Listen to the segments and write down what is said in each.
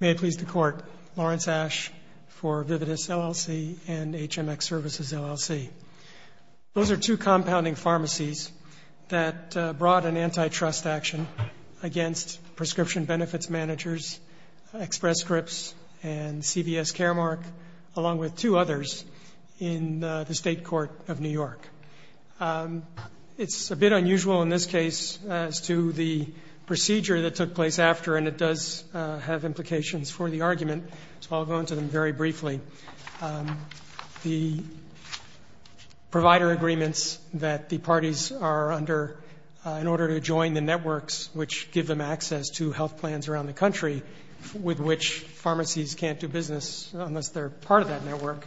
May it please the Court, Lawrence Asch for Vividus, LLC and HMX Services, LLC. Those are two compounding pharmacies that brought an antitrust action against prescription benefits managers, Express Scripts and CVS Caremark, along with two others in the State Court of New York. It's a bit unusual in this case as to the procedure that took place after, and it does have implications for the argument, so I'll go into them very briefly. The provider agreements that the parties are under in order to join the networks which give them access to health plans around the country with which pharmacies can't do business unless they're part of that network,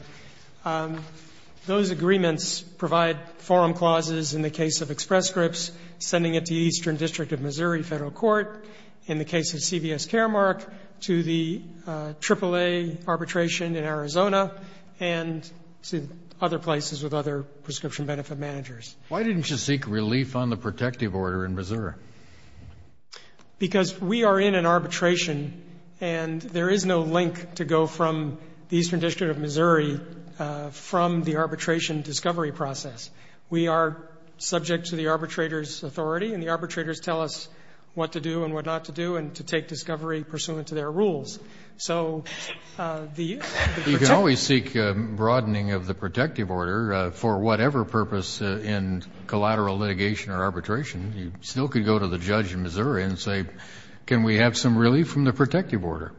those agreements provide forum clauses in the case of Express Scripts, sending it to the Eastern District of Missouri Federal Court. In the case of CVS Caremark, to the AAA arbitration in Arizona, and to other places with other prescription benefit managers. Why didn't you seek relief on the protective order in Missouri? Because we are in an arbitration and there is no link to go from the Eastern District of Missouri from the arbitration discovery process. We are subject to the arbitrator's authority, and the arbitrators tell us what to do and what not to do, and to take discovery pursuant to their rules. So the protective order You can always seek a broadening of the protective order for whatever purpose in collateral litigation or arbitration. You still could go to the judge in Missouri and say, can we have some relief from the protective order?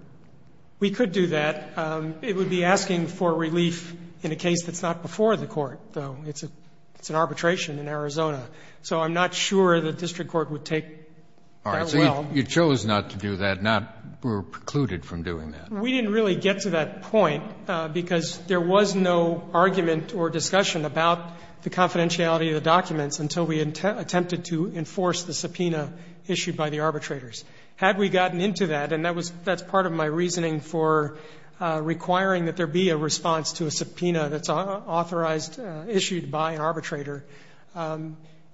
We could do that. It would be asking for relief in a case that's not before the court, though. It's an arbitration in Arizona. So I'm not sure the district court would take that well. All right. So you chose not to do that, not were precluded from doing that. We didn't really get to that point, because there was no argument or discussion about the confidentiality of the documents until we attempted to enforce the subpoena issued by the arbitrators. Had we gotten into that, and that was that's part of my reasoning for requiring that there be a response to a subpoena that's authorized, issued by an arbitrator,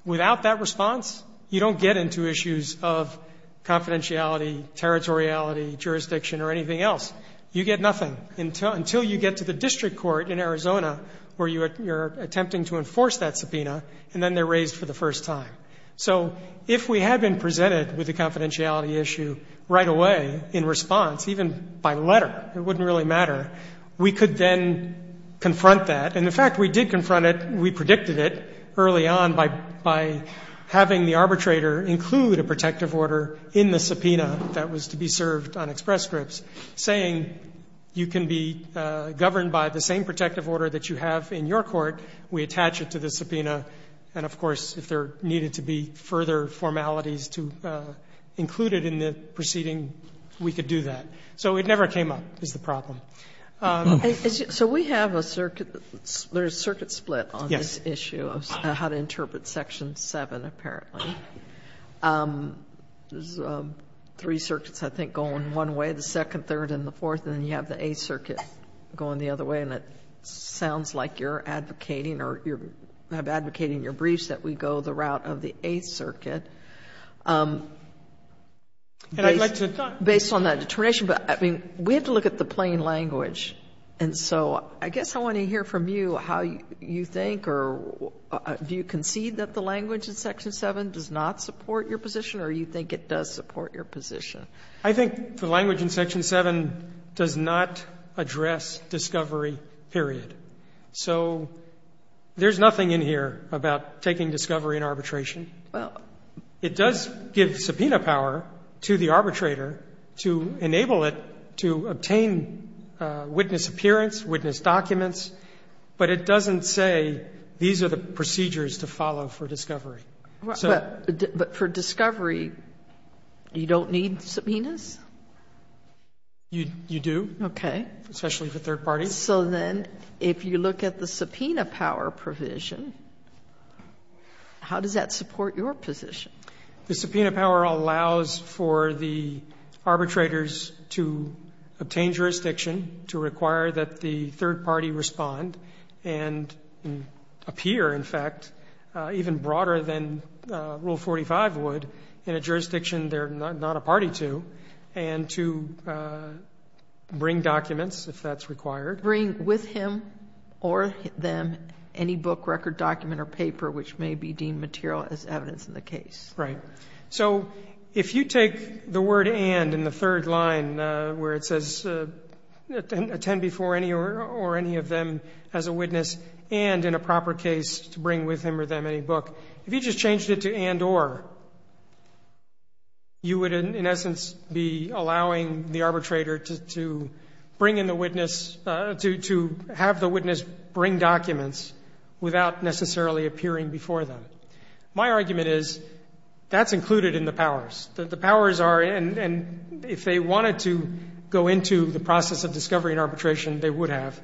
without that response, you don't get into issues of confidentiality, territoriality, jurisdiction, or anything else. You get nothing until you get to the district court in Arizona where you're attempting to enforce that subpoena, and then they're raised for the first time. So if we had been presented with a confidentiality issue right away in response, even by letter, it wouldn't really matter, we could then confront that. And the fact we did confront it, we predicted it early on by having the arbitrator include a protective order in the subpoena that was to be served on express scripts, saying you can be governed by the same protective order that you have in your court, we attach it to the subpoena. And of course, if there needed to be further formalities to include it in the proceeding, we could do that. So it never came up, is the problem. Sotomayor, so we have a circuit, there's a circuit split on this issue of how to interpret section 7, apparently. There's three circuits, I think, going one way, the second, third, and the fourth, and then you have the Eighth Circuit going the other way, and it sounds like you're advocating or you're advocating in your briefs that we go the route of the Eighth Circuit. Based on that determination, but I mean, we have to look at the plain language and so I guess I want to hear from you how you think or do you concede that the language in section 7 does not support your position or you think it does support your position? I think the language in section 7 does not address discovery, period. So there's nothing in here about taking discovery and arbitration. It does give subpoena power to the arbitrator to enable it to obtain the same witness appearance, witness documents, but it doesn't say these are the procedures to follow for discovery. But for discovery, you don't need subpoenas? You do. Okay. Especially for third parties. So then if you look at the subpoena power provision, how does that support your position? The subpoena power allows for the arbitrators to obtain jurisdiction, to require that the third party respond and appear, in fact, even broader than Rule 45 would in a jurisdiction they're not a party to, and to bring documents if that's required. Bring with him or them any book, record, document or paper which may be deemed material as evidence in the case. Right. So if you take the word and in the third line where it says attend before any or any of them as a witness and in a proper case to bring with him or them any book, if you just changed it to and or, you would in essence be allowing the arbitrator to bring in the witness, to have the witness bring documents without necessarily appearing before them. My argument is that's included in the powers. The powers are, and if they wanted to go into the process of discovery and arbitration, they would have.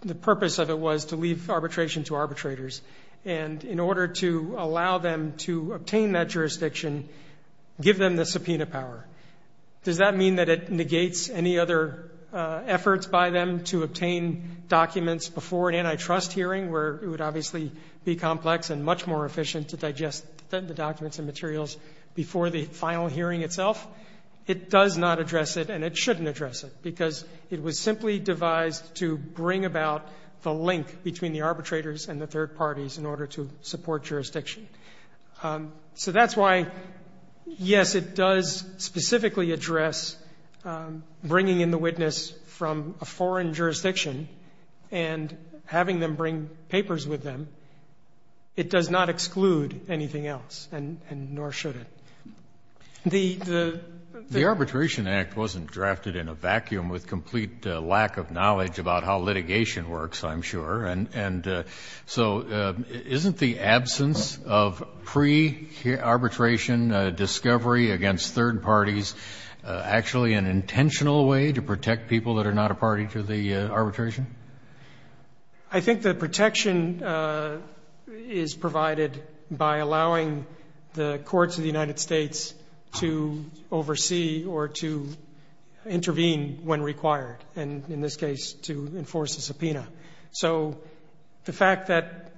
The purpose of it was to leave arbitration to arbitrators. And in order to allow them to obtain that jurisdiction, give them the subpoena power. Does that mean that it negates any other efforts by them to obtain documents before an antitrust hearing where it would obviously be complex and much more efficient to digest the documents and materials before the final hearing itself? It does not address it and it shouldn't address it because it was simply devised to bring about the link between the arbitrators and the third parties in order to support jurisdiction. So that's why, yes, it does specifically address bringing in the witness from a foreign jurisdiction and having them bring papers with them. It does not exclude anything else and nor should it. The the. The Arbitration Act wasn't drafted in a vacuum with complete lack of knowledge about how litigation works, I'm sure. And so isn't the absence of pre-arbitration discovery against third parties actually an intentional way to protect people that are not a party to the arbitration? I think the protection is provided by allowing the courts of the United States to oversee or to intervene when required and, in this case, to enforce a subpoena. So the fact that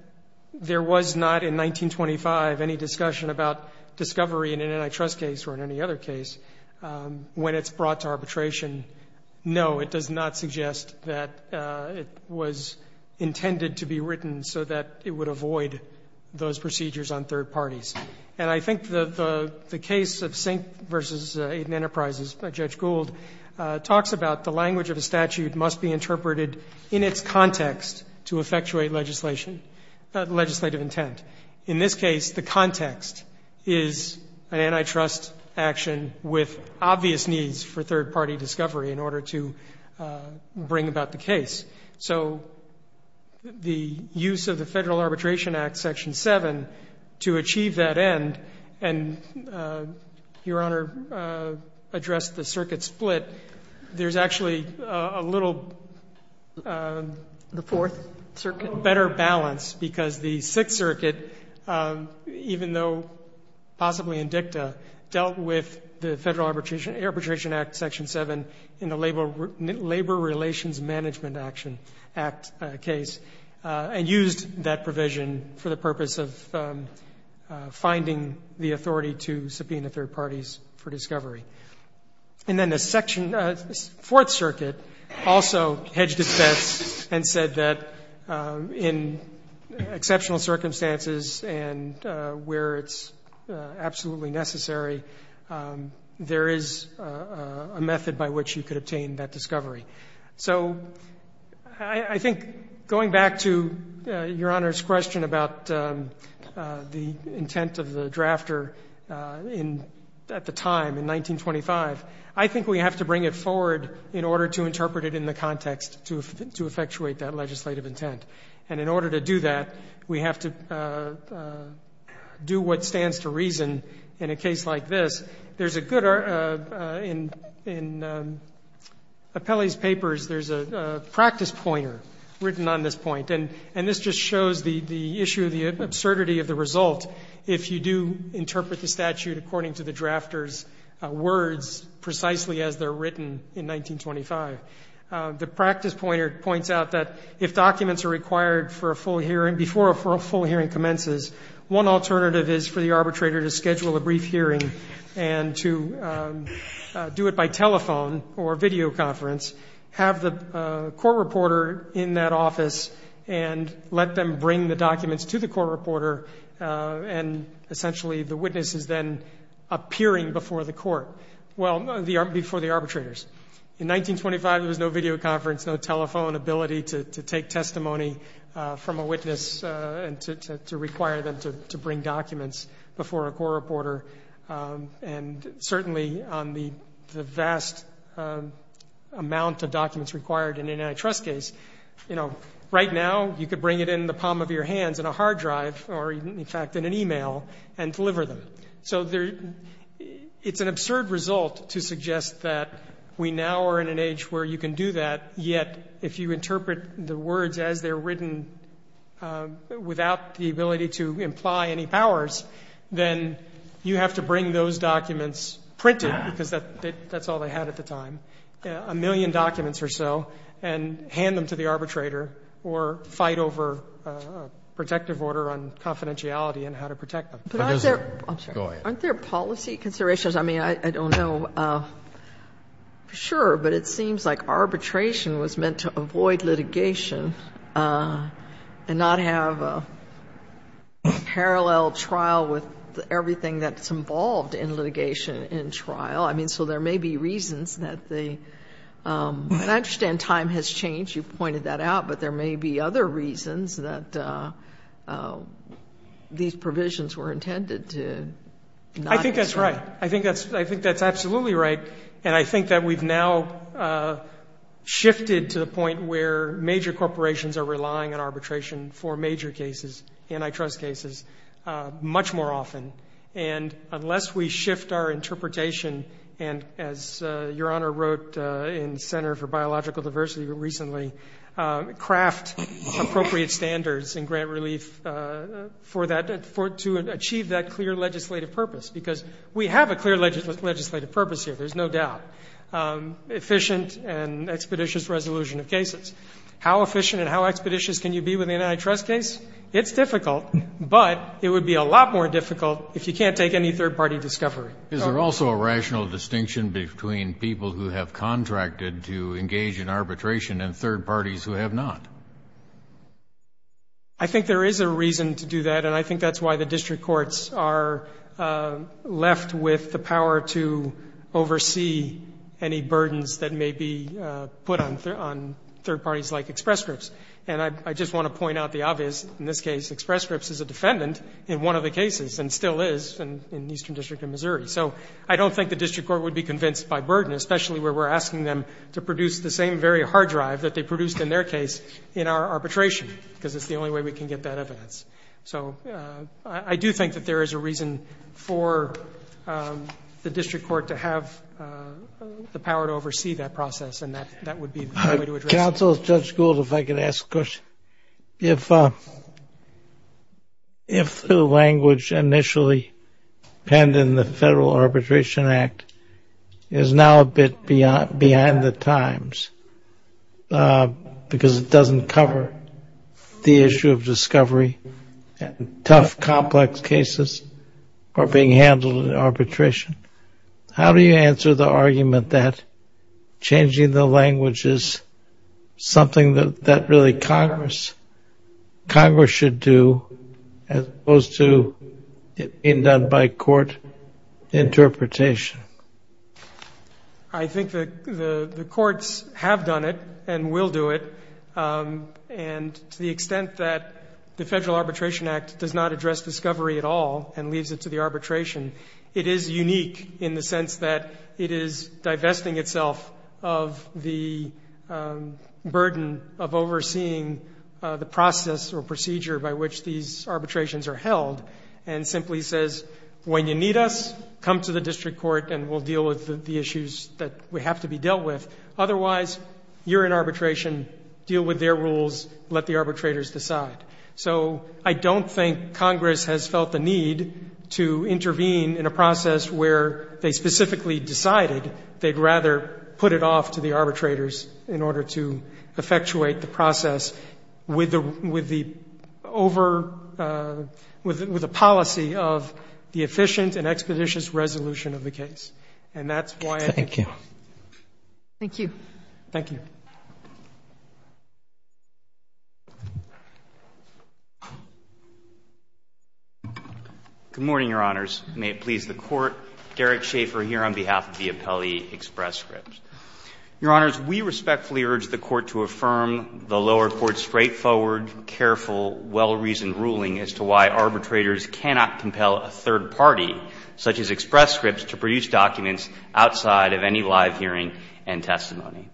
there was not in 1925 any discussion about discovery in an antitrust case or in any other case when it's brought to arbitration, no, it does not suggest that it was intended to be written so that it would avoid those procedures on third parties. And I think the case of Sink v. Aden Enterprises by Judge Gould talks about the language of a statute must be interpreted in its context to effectuate legislation, legislative intent. In this case, the context is an antitrust action with obvious needs for third-party discovery in order to bring about the case. So the use of the Federal Arbitration Act, Section 7, to achieve that end, and Your Honor addressed the circuit split, there's actually a little better balance because the Sixth Circuit, even though possibly in dicta, dealt with the Federal Arbitration Act, Section 7, in the Labor Relations Management Act case and used that provision for the purpose of finding the authority to subpoena third parties for discovery. And then the section of the Fourth Circuit also hedged its bets and said that in exceptional circumstances and where it's absolutely necessary, there is a method by which you could obtain that discovery. So I think going back to Your Honor's question about the intent of the drafter at the time, in 1925, I think we have to bring it forward in order to interpret it in the context to effectuate that legislative intent. And in order to do that, we have to do what stands to reason in a case like this. There's a good article in Appelli's papers. There's a practice pointer written on this point, and this just shows the issue, the absurdity of the result, if you do interpret the statute according to the drafter's words, precisely as they're written in 1925. The practice pointer points out that if documents are required for a full hearing before a full hearing commences, one alternative is for the arbitrator to schedule a brief hearing and to do it by telephone or video conference, have the court reporter in that office and let them bring the documents to the court reporter, and essentially the witness is then appearing before the court. Well, before the arbitrators. In 1925, there was no video conference, no telephone ability to take testimony from a witness and to require them to bring documents before a court reporter. And certainly on the vast amount of documents required in an antitrust case, the court would say, you know, right now you could bring it in the palm of your hands in a hard drive, or in fact in an email, and deliver them. So it's an absurd result to suggest that we now are in an age where you can do that, yet if you interpret the words as they're written without the ability to imply any powers, then you have to bring those documents printed, because that's all they had at the time, a million documents or so, and hand them to the arbitrator or fight over a protective order on confidentiality and how to protect them. But is there go ahead. Aren't there policy considerations? I mean, I don't know for sure, but it seems like arbitration was meant to avoid litigation and not have a parallel trial with everything that's involved in litigation in trial. I mean, so there may be reasons that they, I understand time has changed. You've pointed that out, but there may be other reasons that these provisions were intended to not. I think that's right. I think that's absolutely right. And I think that we've now shifted to the point where major corporations are relying on arbitration for major cases, antitrust cases, much more often. And unless we shift our interpretation and, as Your Honor wrote in Center for Biological Diversity recently, craft appropriate standards and grant relief for that, to achieve that clear legislative purpose, because we have a clear legislative purpose here, there's no doubt, efficient and expeditious resolution of cases. How efficient and how expeditious can you be with an antitrust case? It's difficult, but it would be a lot more difficult if you can't take any third-party discovery. Is there also a rational distinction between people who have contracted to engage in arbitration and third parties who have not? I think there is a reason to do that, and I think that's why the district courts are left with the power to oversee any burdens that may be put on third parties like express groups. And I just want to point out the obvious. In this case, express groups is a defendant in one of the cases and still is in the Eastern District of Missouri. So I don't think the district court would be convinced by burden, especially where we're asking them to produce the same very hard drive that they produced in their case in our arbitration, because it's the only way we can get that evidence. So I do think that there is a reason for the district court to have the power to oversee that process, and that would be the way to address it. Counsel, Judge Gould, if I could ask a question. If the language initially penned in the Federal Arbitration Act is now a bit beyond the times, because it doesn't cover the issue of discovery, and tough, complex cases are being handled in arbitration, how do you answer the argument that changing the language is something that really Congress should do, as opposed to it being done by court interpretation? I think that the courts have done it and will do it, and to the extent that the Federal Arbitration Act does not address discovery at all and leaves it to the arbitration, it is unique in the sense that it is divesting itself of the burden of overseeing the process or procedure by which these arbitrations are held, and simply says, when you need us, come to the district court and we'll deal with the issues that we have to be dealt with. Otherwise, you're in arbitration. Deal with their rules. Let the arbitrators decide. So I don't think Congress has felt the need to intervene in a process where they specifically decided they'd rather put it off to the arbitrators in order to effectuate the process with the policy of the efficient and expeditious resolution of the case. And that's why I think... Thank you. Thank you. Thank you. Good morning, Your Honors. May it please the Court. Derek Schaefer here on behalf of the Appellee Express Scripts. Your Honors, we respectfully urge the Court to affirm the lower court's straightforward, careful, well-reasoned ruling as to why arbitrators cannot compel a third party, such as Express Scripts, to produce documents outside of any live hearing and testimony.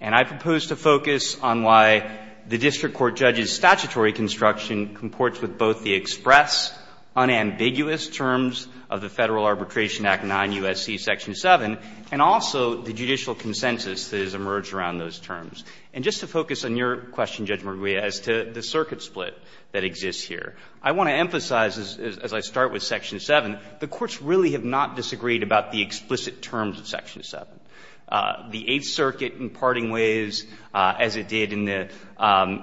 And I propose to focus on why the district court judge's statutory constraints construction comports with both the express, unambiguous terms of the Federal Arbitration Act 9 U.S.C. Section 7, and also the judicial consensus that has emerged around those terms. And just to focus on your question, Judge McGuire, as to the circuit split that exists here, I want to emphasize, as I start with Section 7, the courts really have not disagreed about the explicit terms of Section 7. The Eighth Circuit in parting ways, as it did in the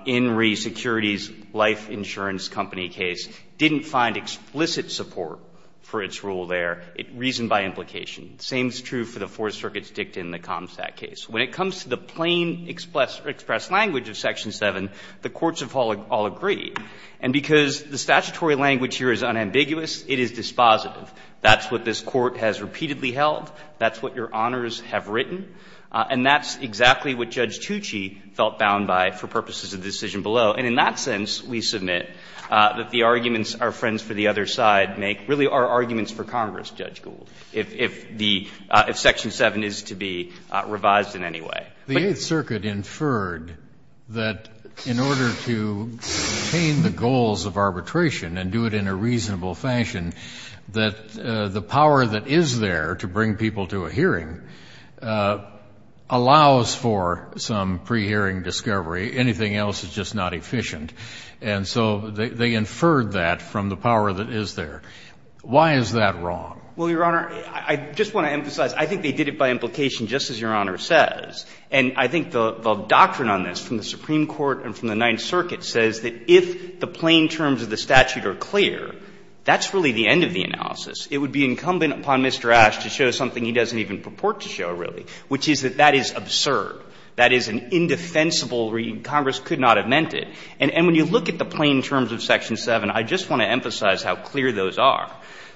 In Re. Securities Life Insurance Company case, didn't find explicit support for its rule there. It reasoned by implication. The same is true for the Fourth Circuit's dicta in the ComStat case. When it comes to the plain express language of Section 7, the courts have all agreed. And because the statutory language here is unambiguous, it is dispositive. That's what this Court has repeatedly held. That's what your honors have written. And that's exactly what Judge Tucci felt bound by for purposes of the decision below. And in that sense, we submit that the arguments our friends for the other side make really are arguments for Congress, Judge Gould, if the – if Section 7 is to be revised in any way. The Eighth Circuit inferred that in order to obtain the goals of arbitration and do it in a reasonable fashion, that the power that is there to bring people to a hearing allows for some pre-hearing discovery. Anything else is just not efficient. And so they inferred that from the power that is there. Why is that wrong? Well, your honor, I just want to emphasize, I think they did it by implication just as your honor says. And I think the doctrine on this from the Supreme Court and from the Ninth Circuit says that if the plain terms of the statute are clear, that's really the end of the analysis. It would be incumbent upon Mr. Ashe to show something he doesn't even purport to show, really, which is that that is absurd. That is an indefensible reading. Congress could not have meant it. And when you look at the plain terms of Section 7, I just want to emphasize how clear those are.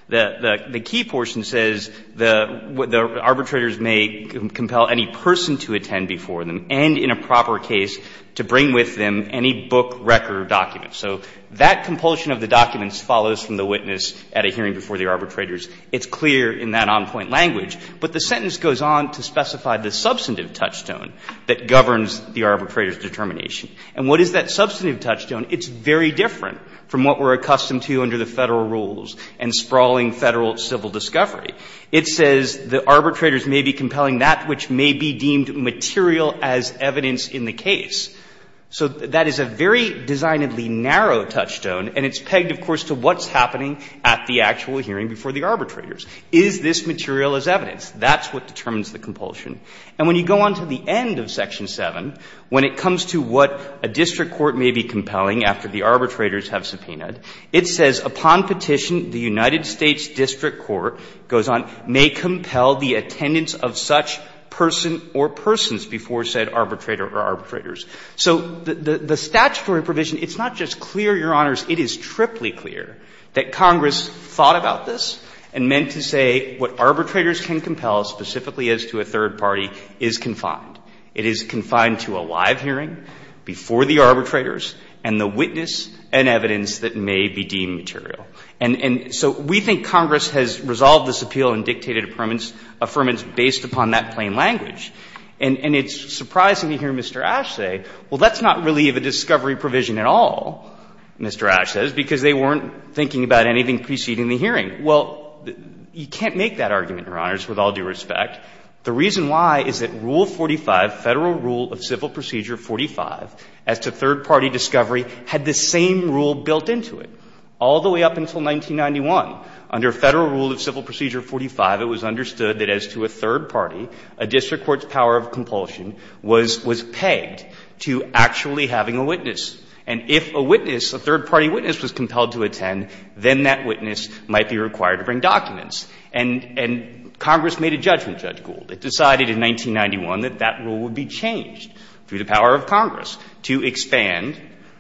The key portion says the arbitrators may compel any person to attend before them and in a proper case to bring with them any book, record, or document. So that compulsion of the documents follows from the witness at a hearing before the arbitrators. It's clear in that on-point language. But the sentence goes on to specify the substantive touchstone that governs the arbitrator's determination. And what is that substantive touchstone? It's very different from what we're accustomed to under the Federal rules and sprawling Federal civil discovery. It says the arbitrators may be compelling that which may be deemed material as evidence in the case. So that is a very designedly narrow touchstone, and it's pegged, of course, to what's happening at the actual hearing before the arbitrators. Is this material as evidence? That's what determines the compulsion. And when you go on to the end of Section 7, when it comes to what a district court may be compelling after the arbitrators have subpoenaed, it says, upon petition, the United States district court, it goes on, may compel the attendance of such person or persons before said arbitrator or arbitrators. So the statutory provision, it's not just clear, Your Honors, it is triply clear that Congress thought about this and meant to say what arbitrators can compel, specifically as to a third party, is confined. It is confined to a live hearing before the arbitrators and the witness and evidence that may be deemed material. And so we think Congress has resolved this appeal and dictated affirmance based upon that plain language. And it's surprising to hear Mr. Ash say, well, let's not relieve a discovery provision at all, Mr. Ash says, because they weren't thinking about anything preceding the hearing. Well, you can't make that argument, Your Honors, with all due respect. The reason why is that Rule 45, Federal Rule of Civil Procedure 45, as to third party, a district court's power of compulsion was pegged to actually having a witness. And if a witness, a third party witness, was compelled to attend, then that witness might be required to bring documents. And Congress made a judgment, Judge Gould, it decided in 1991 that that rule would be changed through the power of Congress to expand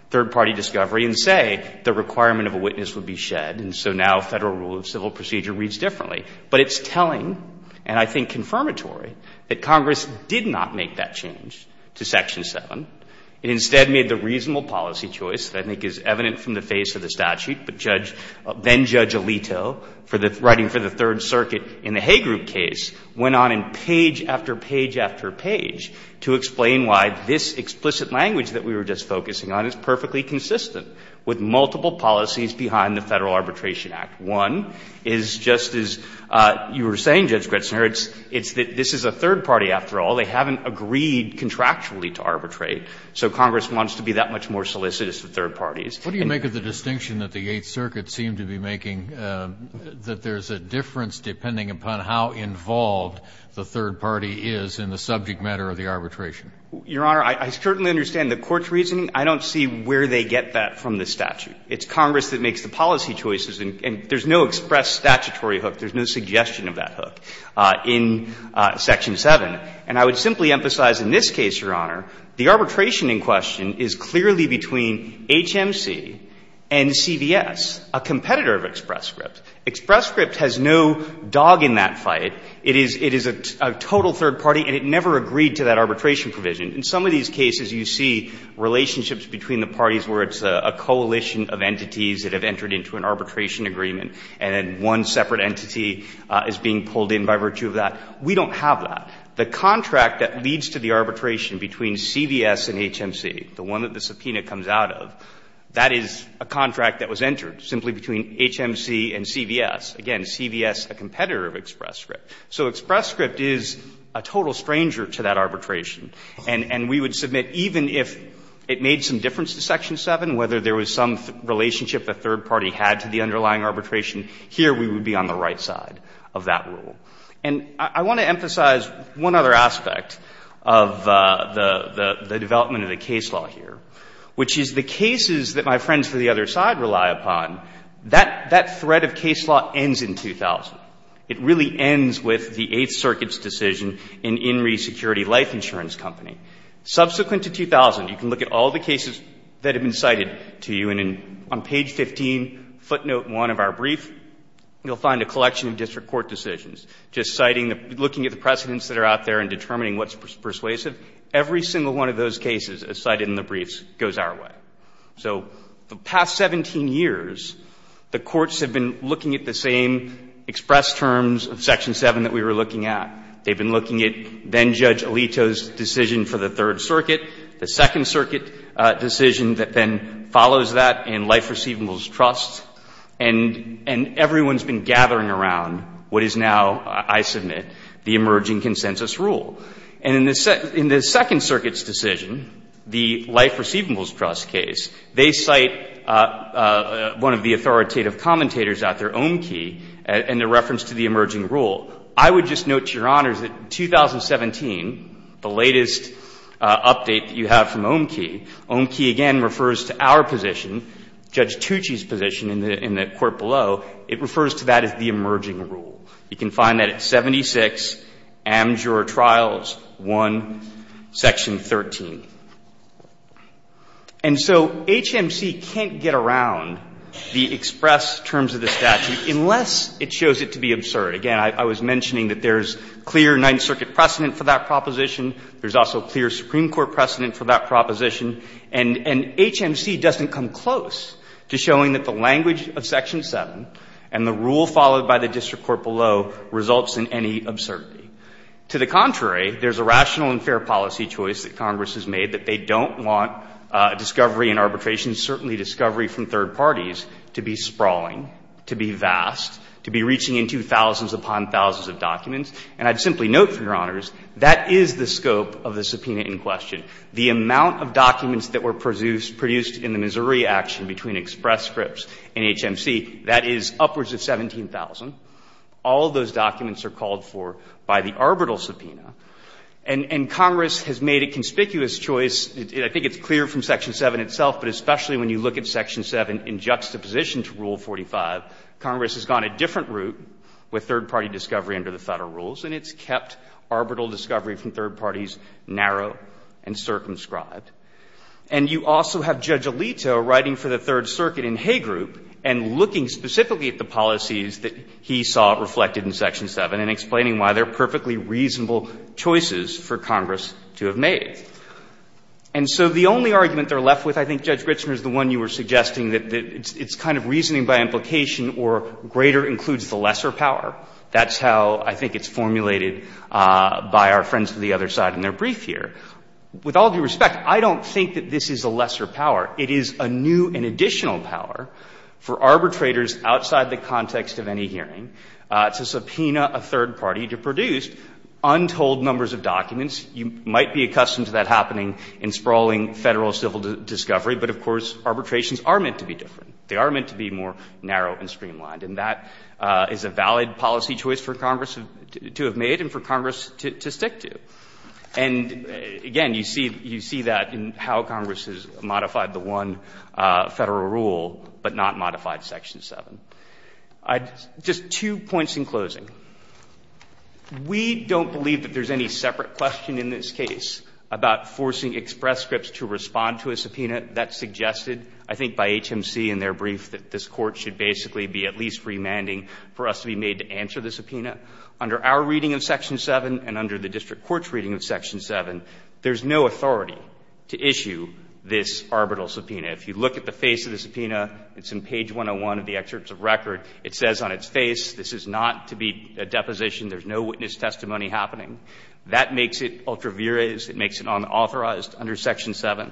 third party discovery and say the requirement of a witness would be shed. And so now Federal Rule of Civil Procedure reads differently. But it's telling, and I think confirmatory, that Congress did not make that change to Section 7. It instead made the reasonable policy choice that I think is evident from the face of the statute. But Judge — then-Judge Alito, for the — writing for the Third Circuit in the Haygroup case, went on in page after page after page to explain why this explicit language that we were just focusing on is perfectly consistent with multiple policies behind the Federal Arbitration Act. One is just as you were saying, Judge Gretzner, it's — it's that this is a third party, after all. They haven't agreed contractually to arbitrate. So Congress wants to be that much more solicitous to third parties. And — What do you make of the distinction that the Eighth Circuit seemed to be making that there's a difference depending upon how involved the third party is in the subject matter of the arbitration? Your Honor, I certainly understand the court's reasoning. I don't see where they get that from the statute. It's Congress that makes the policy choices. And there's no express statutory hook. There's no suggestion of that hook in Section 7. And I would simply emphasize in this case, Your Honor, the arbitration in question is clearly between HMC and CVS, a competitor of Express Script. Express Script has no dog in that fight. It is — it is a total third party, and it never agreed to that arbitration provision. In some of these cases, you see relationships between the parties where it's a coalition of entities that have entered into an arbitration agreement, and then one separate entity is being pulled in by virtue of that. We don't have that. The contract that leads to the arbitration between CVS and HMC, the one that the subpoena comes out of, that is a contract that was entered simply between HMC and CVS. Again, CVS, a competitor of Express Script. So Express Script is a total stranger to that arbitration. And we would submit even if it made some difference to Section 7, whether there was some relationship the third party had to the underlying arbitration, here we would be on the right side of that rule. And I want to emphasize one other aspect of the development of the case law here, which is the cases that my friends to the other side rely upon, that threat of case law ends in 2000. It really ends with the Eighth Circuit's decision in Inree Security Life Insurance Company. Subsequent to 2000, you can look at all the cases that have been cited to you, and on page 15, footnote 1 of our brief, you'll find a collection of district court decisions, just citing, looking at the precedents that are out there and determining what's persuasive. Every single one of those cases cited in the briefs goes our way. So the past 17 years, the courts have been looking at the same express terms of Section 7 that we were looking at. They've been looking at then-Judge Alito's decision for the Third Circuit, the Second Circuit decision that then follows that in Life Receivables Trust, and everyone's been gathering around what is now, I submit, the emerging consensus rule. And in the Second Circuit's decision, the Life Receivables Trust case, they cite one of the authoritative commentators out there, Omki, in the reference to the emerging rule. I would just note, Your Honors, that 2017, the latest update that you have from Omki, Omki again refers to our position, Judge Tucci's position in the court below. It refers to that as the emerging rule. You can find that at 76 Amjuror Trials 1, Section 13. And so HMC can't get around the express terms of the statute unless it shows it to be absurd. Again, I was mentioning that there's clear Ninth Circuit precedent for that proposition. There's also clear Supreme Court precedent for that proposition. And HMC doesn't come close to showing that the language of Section 7 and the rule followed by the district court below results in any absurdity. To the contrary, there's a rational and fair policy choice that Congress has made, that they don't want discovery and arbitration, certainly discovery from third parties, to be sprawling, to be vast, to be reaching into thousands upon thousands of documents. And I'd simply note, Your Honors, that is the scope of the subpoena in question. The amount of documents that were produced in the Missouri action between express scripts and HMC, that is upwards of 17,000. All of those documents are called for by the arbitral subpoena. And Congress has made a conspicuous choice. I think it's clear from Section 7 itself, but especially when you look at Section 7 in juxtaposition to Rule 45, Congress has gone a different route with third-party discovery under the Federal rules, and it's kept arbitral discovery from third-parties narrow and circumscribed. And you also have Judge Alito writing for the Third Circuit in Hay Group and looking specifically at the policies that he saw reflected in Section 7, and explaining why they're perfectly reasonable choices for Congress to have made. And so the only argument they're left with, I think, Judge Gritzner, is the one you were suggesting, that it's kind of reasoning by implication or greater includes the lesser power. That's how I think it's formulated by our friends to the other side in their brief here. With all due respect, I don't think that this is a lesser power. It is a new and additional power for arbitrators outside the context of any hearing to subpoena a third party to produce untold numbers of documents. You might be accustomed to that happening in sprawling Federal civil discovery, but, of course, arbitrations are meant to be different. They are meant to be more narrow and streamlined. And that is a valid policy choice for Congress to have made and for Congress to stick to. And, again, you see that in how Congress has modified the one Federal rule, but not modified Section 7. Just two points in closing. We don't believe that there's any separate question in this case about forcing express scripts to respond to a subpoena that's suggested, I think, by HMC in their brief, that this Court should basically be at least remanding for us to be made to answer the subpoena. Under our reading of Section 7 and under the district court's reading of Section 7, there's no authority to issue this arbitral subpoena. If you look at the face of the subpoena, it's in page 101 of the excerpts of record. It says on its face, this is not to be a deposition. There's no witness testimony happening. That makes it ultra viris. It makes it unauthorized under Section 7.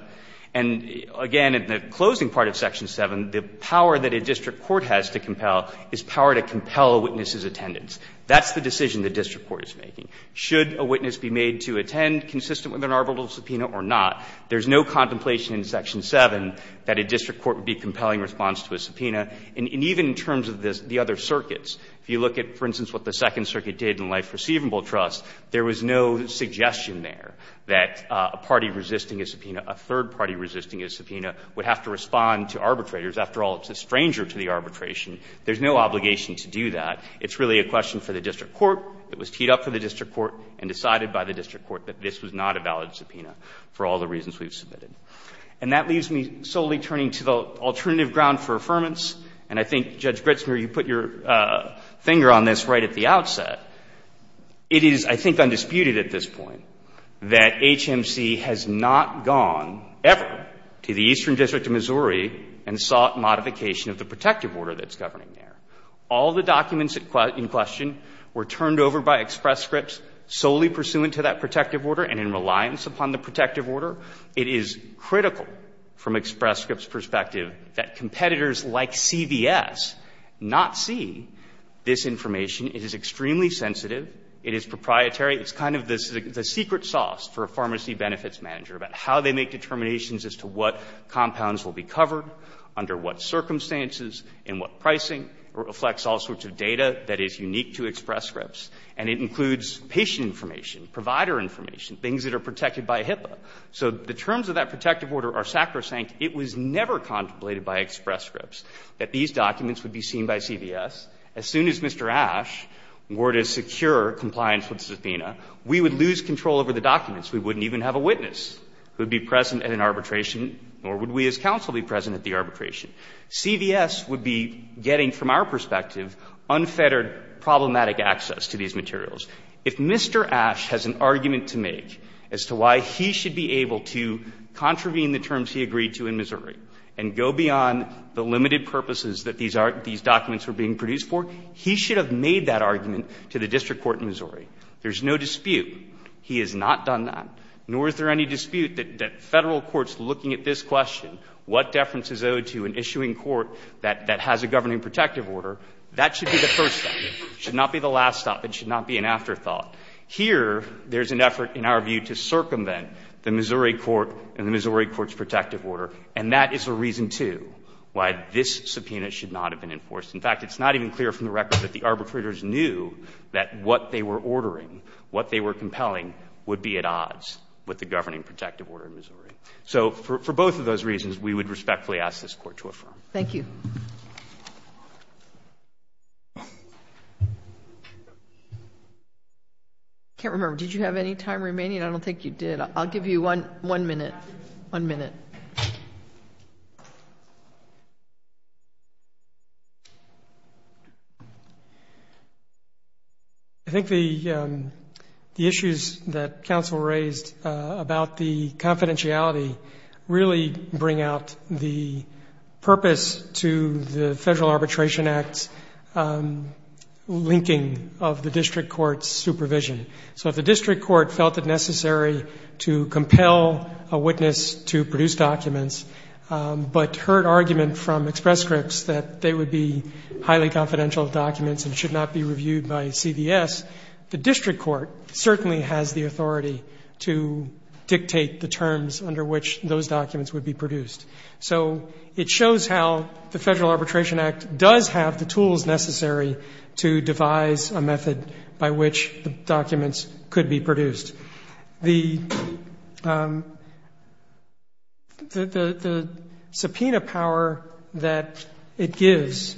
And, again, in the closing part of Section 7, the power that a district court has to compel is power to compel a witness's attendance. That's the decision the district court is making. Should a witness be made to attend consistent with an arbitral subpoena or not? There's no contemplation in Section 7 that a district court would be compelling response to a subpoena. And even in terms of the other circuits, if you look at, for instance, what the Second Circuit did in life receivable trust, there was no suggestion there that a party resisting a subpoena, a third party resisting a subpoena, would have to respond to arbitrators. After all, it's a stranger to the arbitration. There's no obligation to do that. It's really a question for the district court. It was teed up for the district court and decided by the district court that this was not a valid subpoena for all the reasons we've submitted. And that leaves me solely turning to the alternative ground for affirmance. And I think, Judge Gritzmer, you put your finger on this right at the outset. It is, I think, undisputed at this point that HMC has not gone ever to the Eastern District of Missouri and sought modification of the protective order that's governing there. All the documents in question were turned over by Express Scripts solely pursuant to that protective order and in reliance upon the protective order. It is critical from Express Scripts' perspective that competitors like CVS not see this information. It is extremely sensitive. It is proprietary. It's kind of the secret sauce for a pharmacy benefits manager about how they make determinations as to what compounds will be covered, under what circumstances and what pricing, reflects all sorts of data that is unique to Express Scripts. And it includes patient information, provider information, things that are protected by HIPAA. So the terms of that protective order are sacrosanct. It was never contemplated by Express Scripts that these documents would be seen by CVS. As soon as Mr. Ashe were to secure compliance with this subpoena, we would lose control over the documents. We wouldn't even have a witness who would be present at an arbitration, nor would we as counsel be present at the arbitration. CVS would be getting, from our perspective, unfettered, problematic access to these materials. If Mr. Ashe has an argument to make as to why he should be able to contravene the terms he agreed to in Missouri and go beyond the limited purposes that these documents were being produced for, he should have made that argument to the district court in Missouri. There is no dispute he has not done that, nor is there any dispute that Federal courts looking at this question, what deference is owed to an issuing court that has a governing protective order, that should be the first step. It should not be the last step. It should not be an afterthought. Here, there is an effort, in our view, to circumvent the Missouri court and the Missouri court's protective order, and that is a reason, too, why this subpoena should not have been enforced. In fact, it's not even clear from the record that the arbitrators knew that what they were ordering, what they were compelling, would be at odds with the governing protective order in Missouri. So for both of those reasons, we would respectfully ask this Court to affirm. Thank you. I can't remember. Did you have any time remaining? I don't think you did. I'll give you one minute, one minute. I think the issues that counsel raised about the confidentiality really bring out the purpose to the Federal Arbitration Act's linking of the district court's supervision. So if the district court felt it necessary to compel a witness to produce documents but heard argument from Express Scripts that they would be highly confidential documents and should not be reviewed by CVS, the district court certainly has the authority to dictate the terms under which those documents would be produced. So it shows how the Federal Arbitration Act does have the tools necessary to devise a method by which the documents could be produced. The subpoena power that it gives,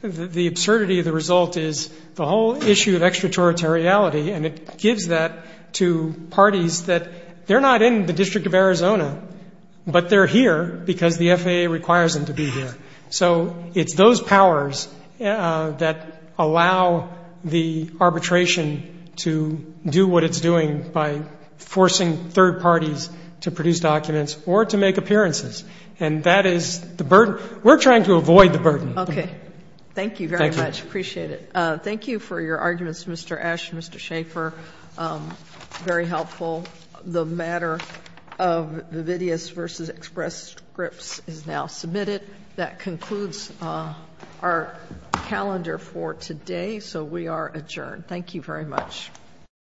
the absurdity of the result is the whole issue of extraterritoriality, and it gives that to parties that they're not in the District of Arizona, but they're here because the FAA requires them to be here. So it's those powers that allow the arbitration to do what it's doing by forcing third parties to produce documents or to make appearances. And that is the burden. We're trying to avoid the burden. Okay. Thank you very much. Appreciate it. Thank you for your arguments, Mr. Esch and Mr. Schaffer. Very helpful. The matter of Vividius v. Express Scripts is now submitted. That concludes our calendar for today, so we are adjourned. Thank you very much.